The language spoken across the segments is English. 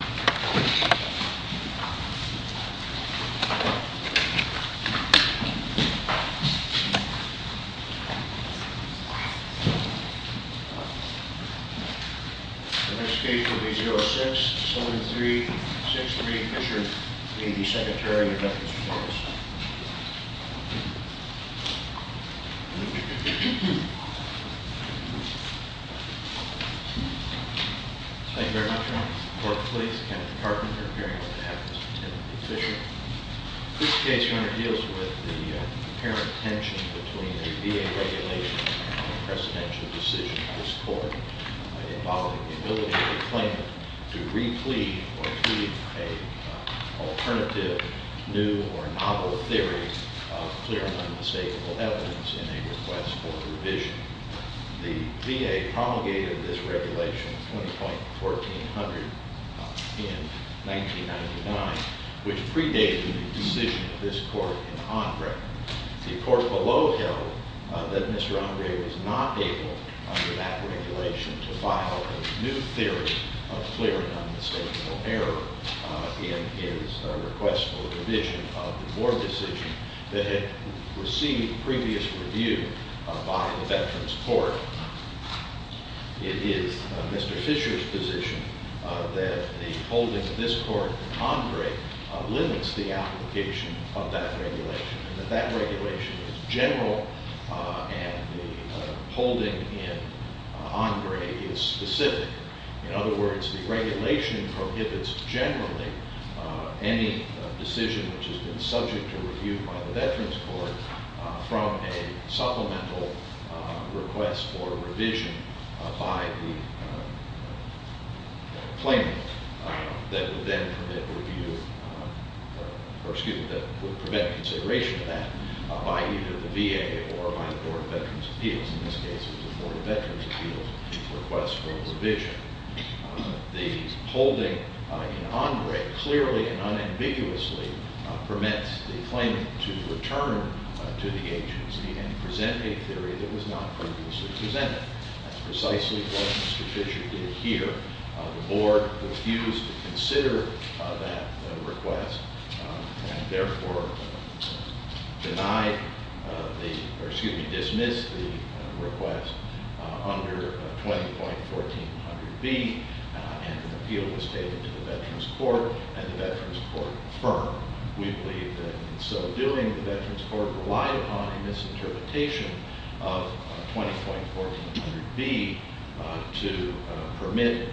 The next case will be 06-7363 Fisher. He will be Secretary of the Justice Department. Thank you very much. Court, please. Thank you. This is Kenneth Carpenter. This case deals with the apparent tension between the VA regulations and the presidential decision of this court involving the ability of the claimant to replete or plead an alternative new or novel theory of clear and unmistakable evidence in a request for revision. The VA promulgated this regulation 20.1400 in 1999, which predated the decision of this court in Andre. The court below held that Mr. Andre was not able, under that regulation, to file a new theory of clear and unmistakable error in his request for revision of the board decision that had received previous review by the Veterans Court. It is Mr. Fisher's position that the holding of this court in Andre limits the application of that regulation, and that that regulation is general and the holding in Andre is specific. In other words, the regulation prohibits generally any decision which has been subject to review by the Veterans Court from a supplemental request for revision by the claimant that would then permit review, or excuse me, that would prevent consideration of that by either the VA or by the Board of Veterans' Appeals. In this case, it was the Board of Veterans' Appeals' request for revision. The holding in Andre clearly and unambiguously permits the claimant to return to the agency and present a theory that was not previously presented. That's precisely what Mr. Fisher did here. The board refused to consider that request, and therefore denied the, or excuse me, dismissed the request under 20.1400B, and an appeal was taken to the Veterans Court, and the Veterans Court affirmed. We believe that in so doing, the Veterans Court relied upon a misinterpretation of 20.1400B to permit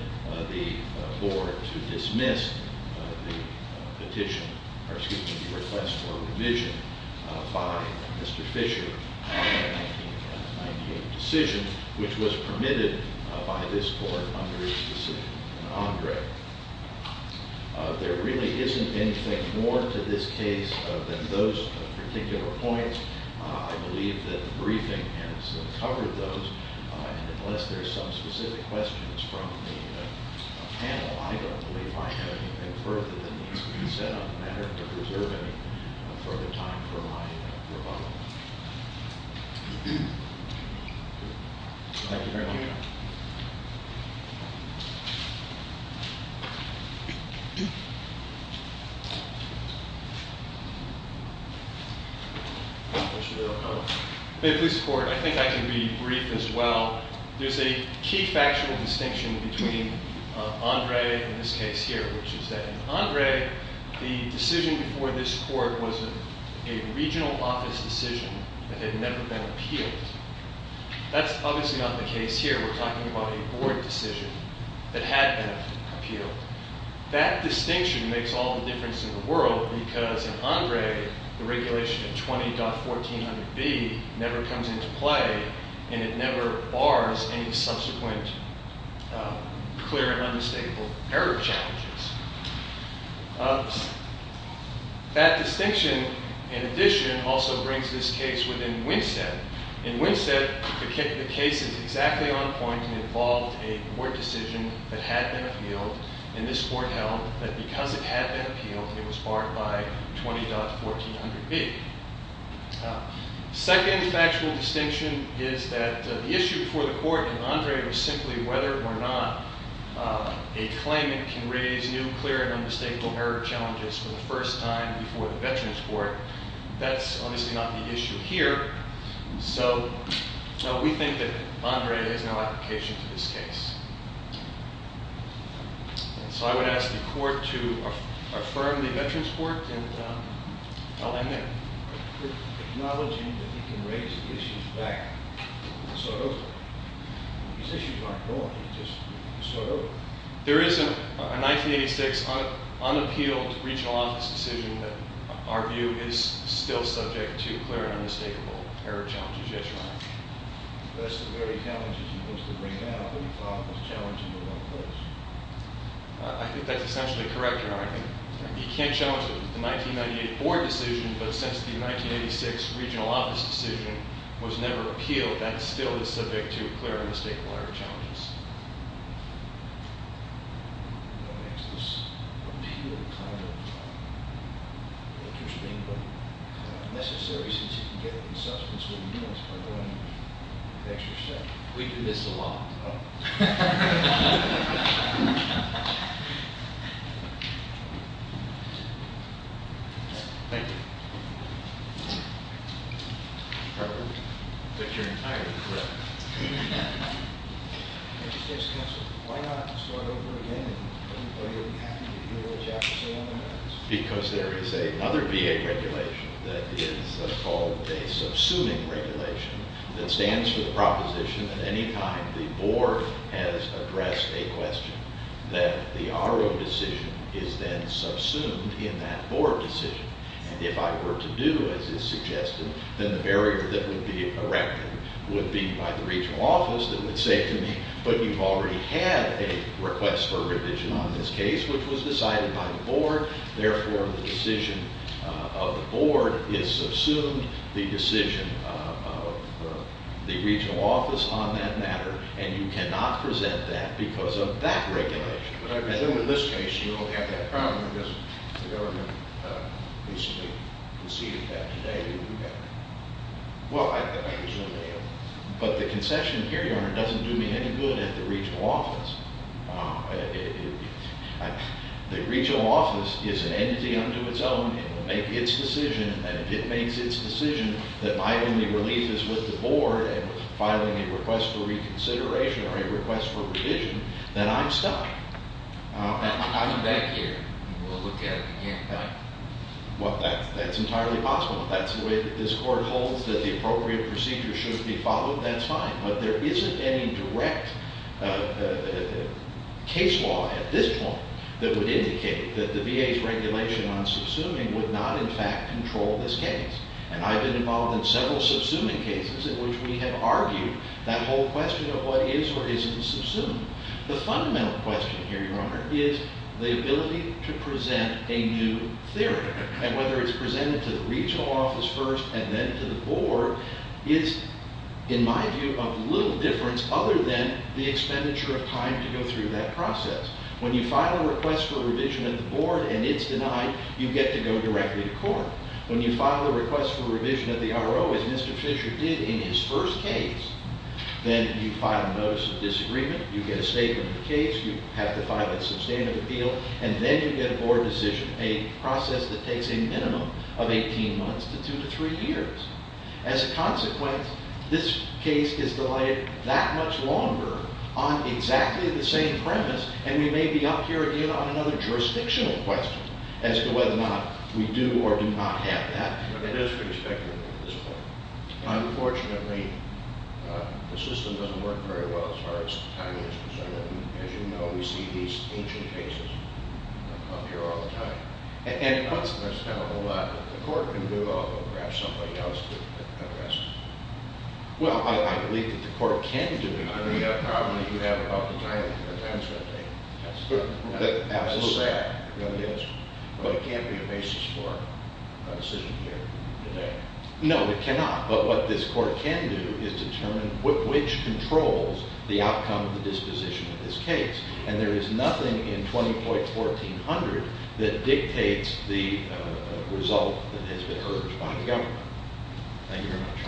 the board to dismiss the petition, or excuse me, the request for revision by Mr. Fisher in the 1998 decision, which was permitted by this court under his decision in Andre. There really isn't anything more to this case than those particular points. I believe that the briefing has covered those, and unless there's some specific questions from the panel, I don't believe I have anything further that needs to be said on the matter to preserve any further time for my rebuttal. Thank you very much. Thank you. Thank you, Your Honor. In this court, I think I can be brief as well. There's a key factual distinction between Andre and this case here, which is that in Andre, the decision before this court was a regional office decision that had never been appealed. That's obviously not the case here. We're talking about a board decision that had been appealed. That distinction makes all the difference in the world, because in Andre, the regulation of 20.1400B never comes into play, and it never bars any subsequent clear and unmistakable error challenges. That distinction, in addition, also brings this case within Winsett. In Winsett, the case is exactly on point. It involved a board decision that had been appealed, and this court held that because it had been appealed, it was barred by 20.1400B. The second factual distinction is that the issue before the court in Andre was simply whether or not a claimant can raise new clear and unmistakable error challenges for the first time before the Veterans Court. That's obviously not the issue here, so we think that Andre has no application to this case. So I would ask the court to affirm the Veterans Court, and I'll end there. There is a 1986 unappealed regional office decision that our view is still subject to clear and unmistakable error challenges, yes, Your Honor. I think that's essentially correct, Your Honor. You can't challenge the 1998 board decision, but since the 1986 regional office decision was never appealed, that still is subject to clear and unmistakable error challenges. I don't know if that makes this appeal kind of interesting, but necessary since you can get it in substance when you can't by going extra step. We do this a lot. Thank you. But you're entirely correct. Why not start over again? Because there is another VA regulation that is called a subsuming regulation that stands for the proposition that any time the board has addressed a question, that the RO decision is then subsumed in that board decision. And if I were to do as is suggested, then the barrier that would be erected would be by the regional office that would say to me, but you've already had a request for revision on this case, which was decided by the board. Therefore, the decision of the board is subsumed, the decision of the regional office on that matter, and you cannot present that because of that regulation. But I presume in this case you don't have that problem because the government recently conceded that today. Well, I presume they have. But the concession here, Your Honor, doesn't do me any good at the regional office. The regional office is an entity unto its own. It will make its decision. And if it makes its decision that my only relief is with the board and filing a request for reconsideration or a request for revision, then I'm stuck. I'm back here. We'll look at it again. Well, that's entirely possible. If that's the way that this court holds that the appropriate procedure should be followed, that's fine. But there isn't any direct case law at this point that would indicate that the VA's regulation on subsuming would not, in fact, control this case. And I've been involved in several subsuming cases in which we have argued that whole question of what is or isn't subsumed. The fundamental question here, Your Honor, is the ability to present a new theory. And whether it's presented to the regional office first and then to the board is, in my view, of little difference other than the expenditure of time to go through that process. When you file a request for revision at the board and it's denied, you get to go directly to court. When you file a request for revision at the RO, as Mr. Fisher did in his first case, then you file a notice of disagreement. You get a statement of the case. You have to file a substantive appeal. And then you get a board decision, a process that takes a minimum of 18 months to two to three years. As a consequence, this case is delayed that much longer on exactly the same premise. And we may be up here again on another jurisdictional question as to whether or not we do or do not have that. It is pretty speculative at this point. Unfortunately, the system doesn't work very well as far as the timing is concerned. And as you know, we see these ancient cases up here all the time. And, as a consequence, there's not a whole lot that the court can do, although perhaps somebody else could address it. Well, I believe that the court can do it. I mean, you have a problem that you have about the timing. The time is going to take. That's sad. But it can't be a basis for a decision here today. No, it cannot. But what this court can do is determine which controls the outcome of the disposition of this case. And there is nothing in 20.1400 that dictates the result that has been urged by the government. Thank you very much.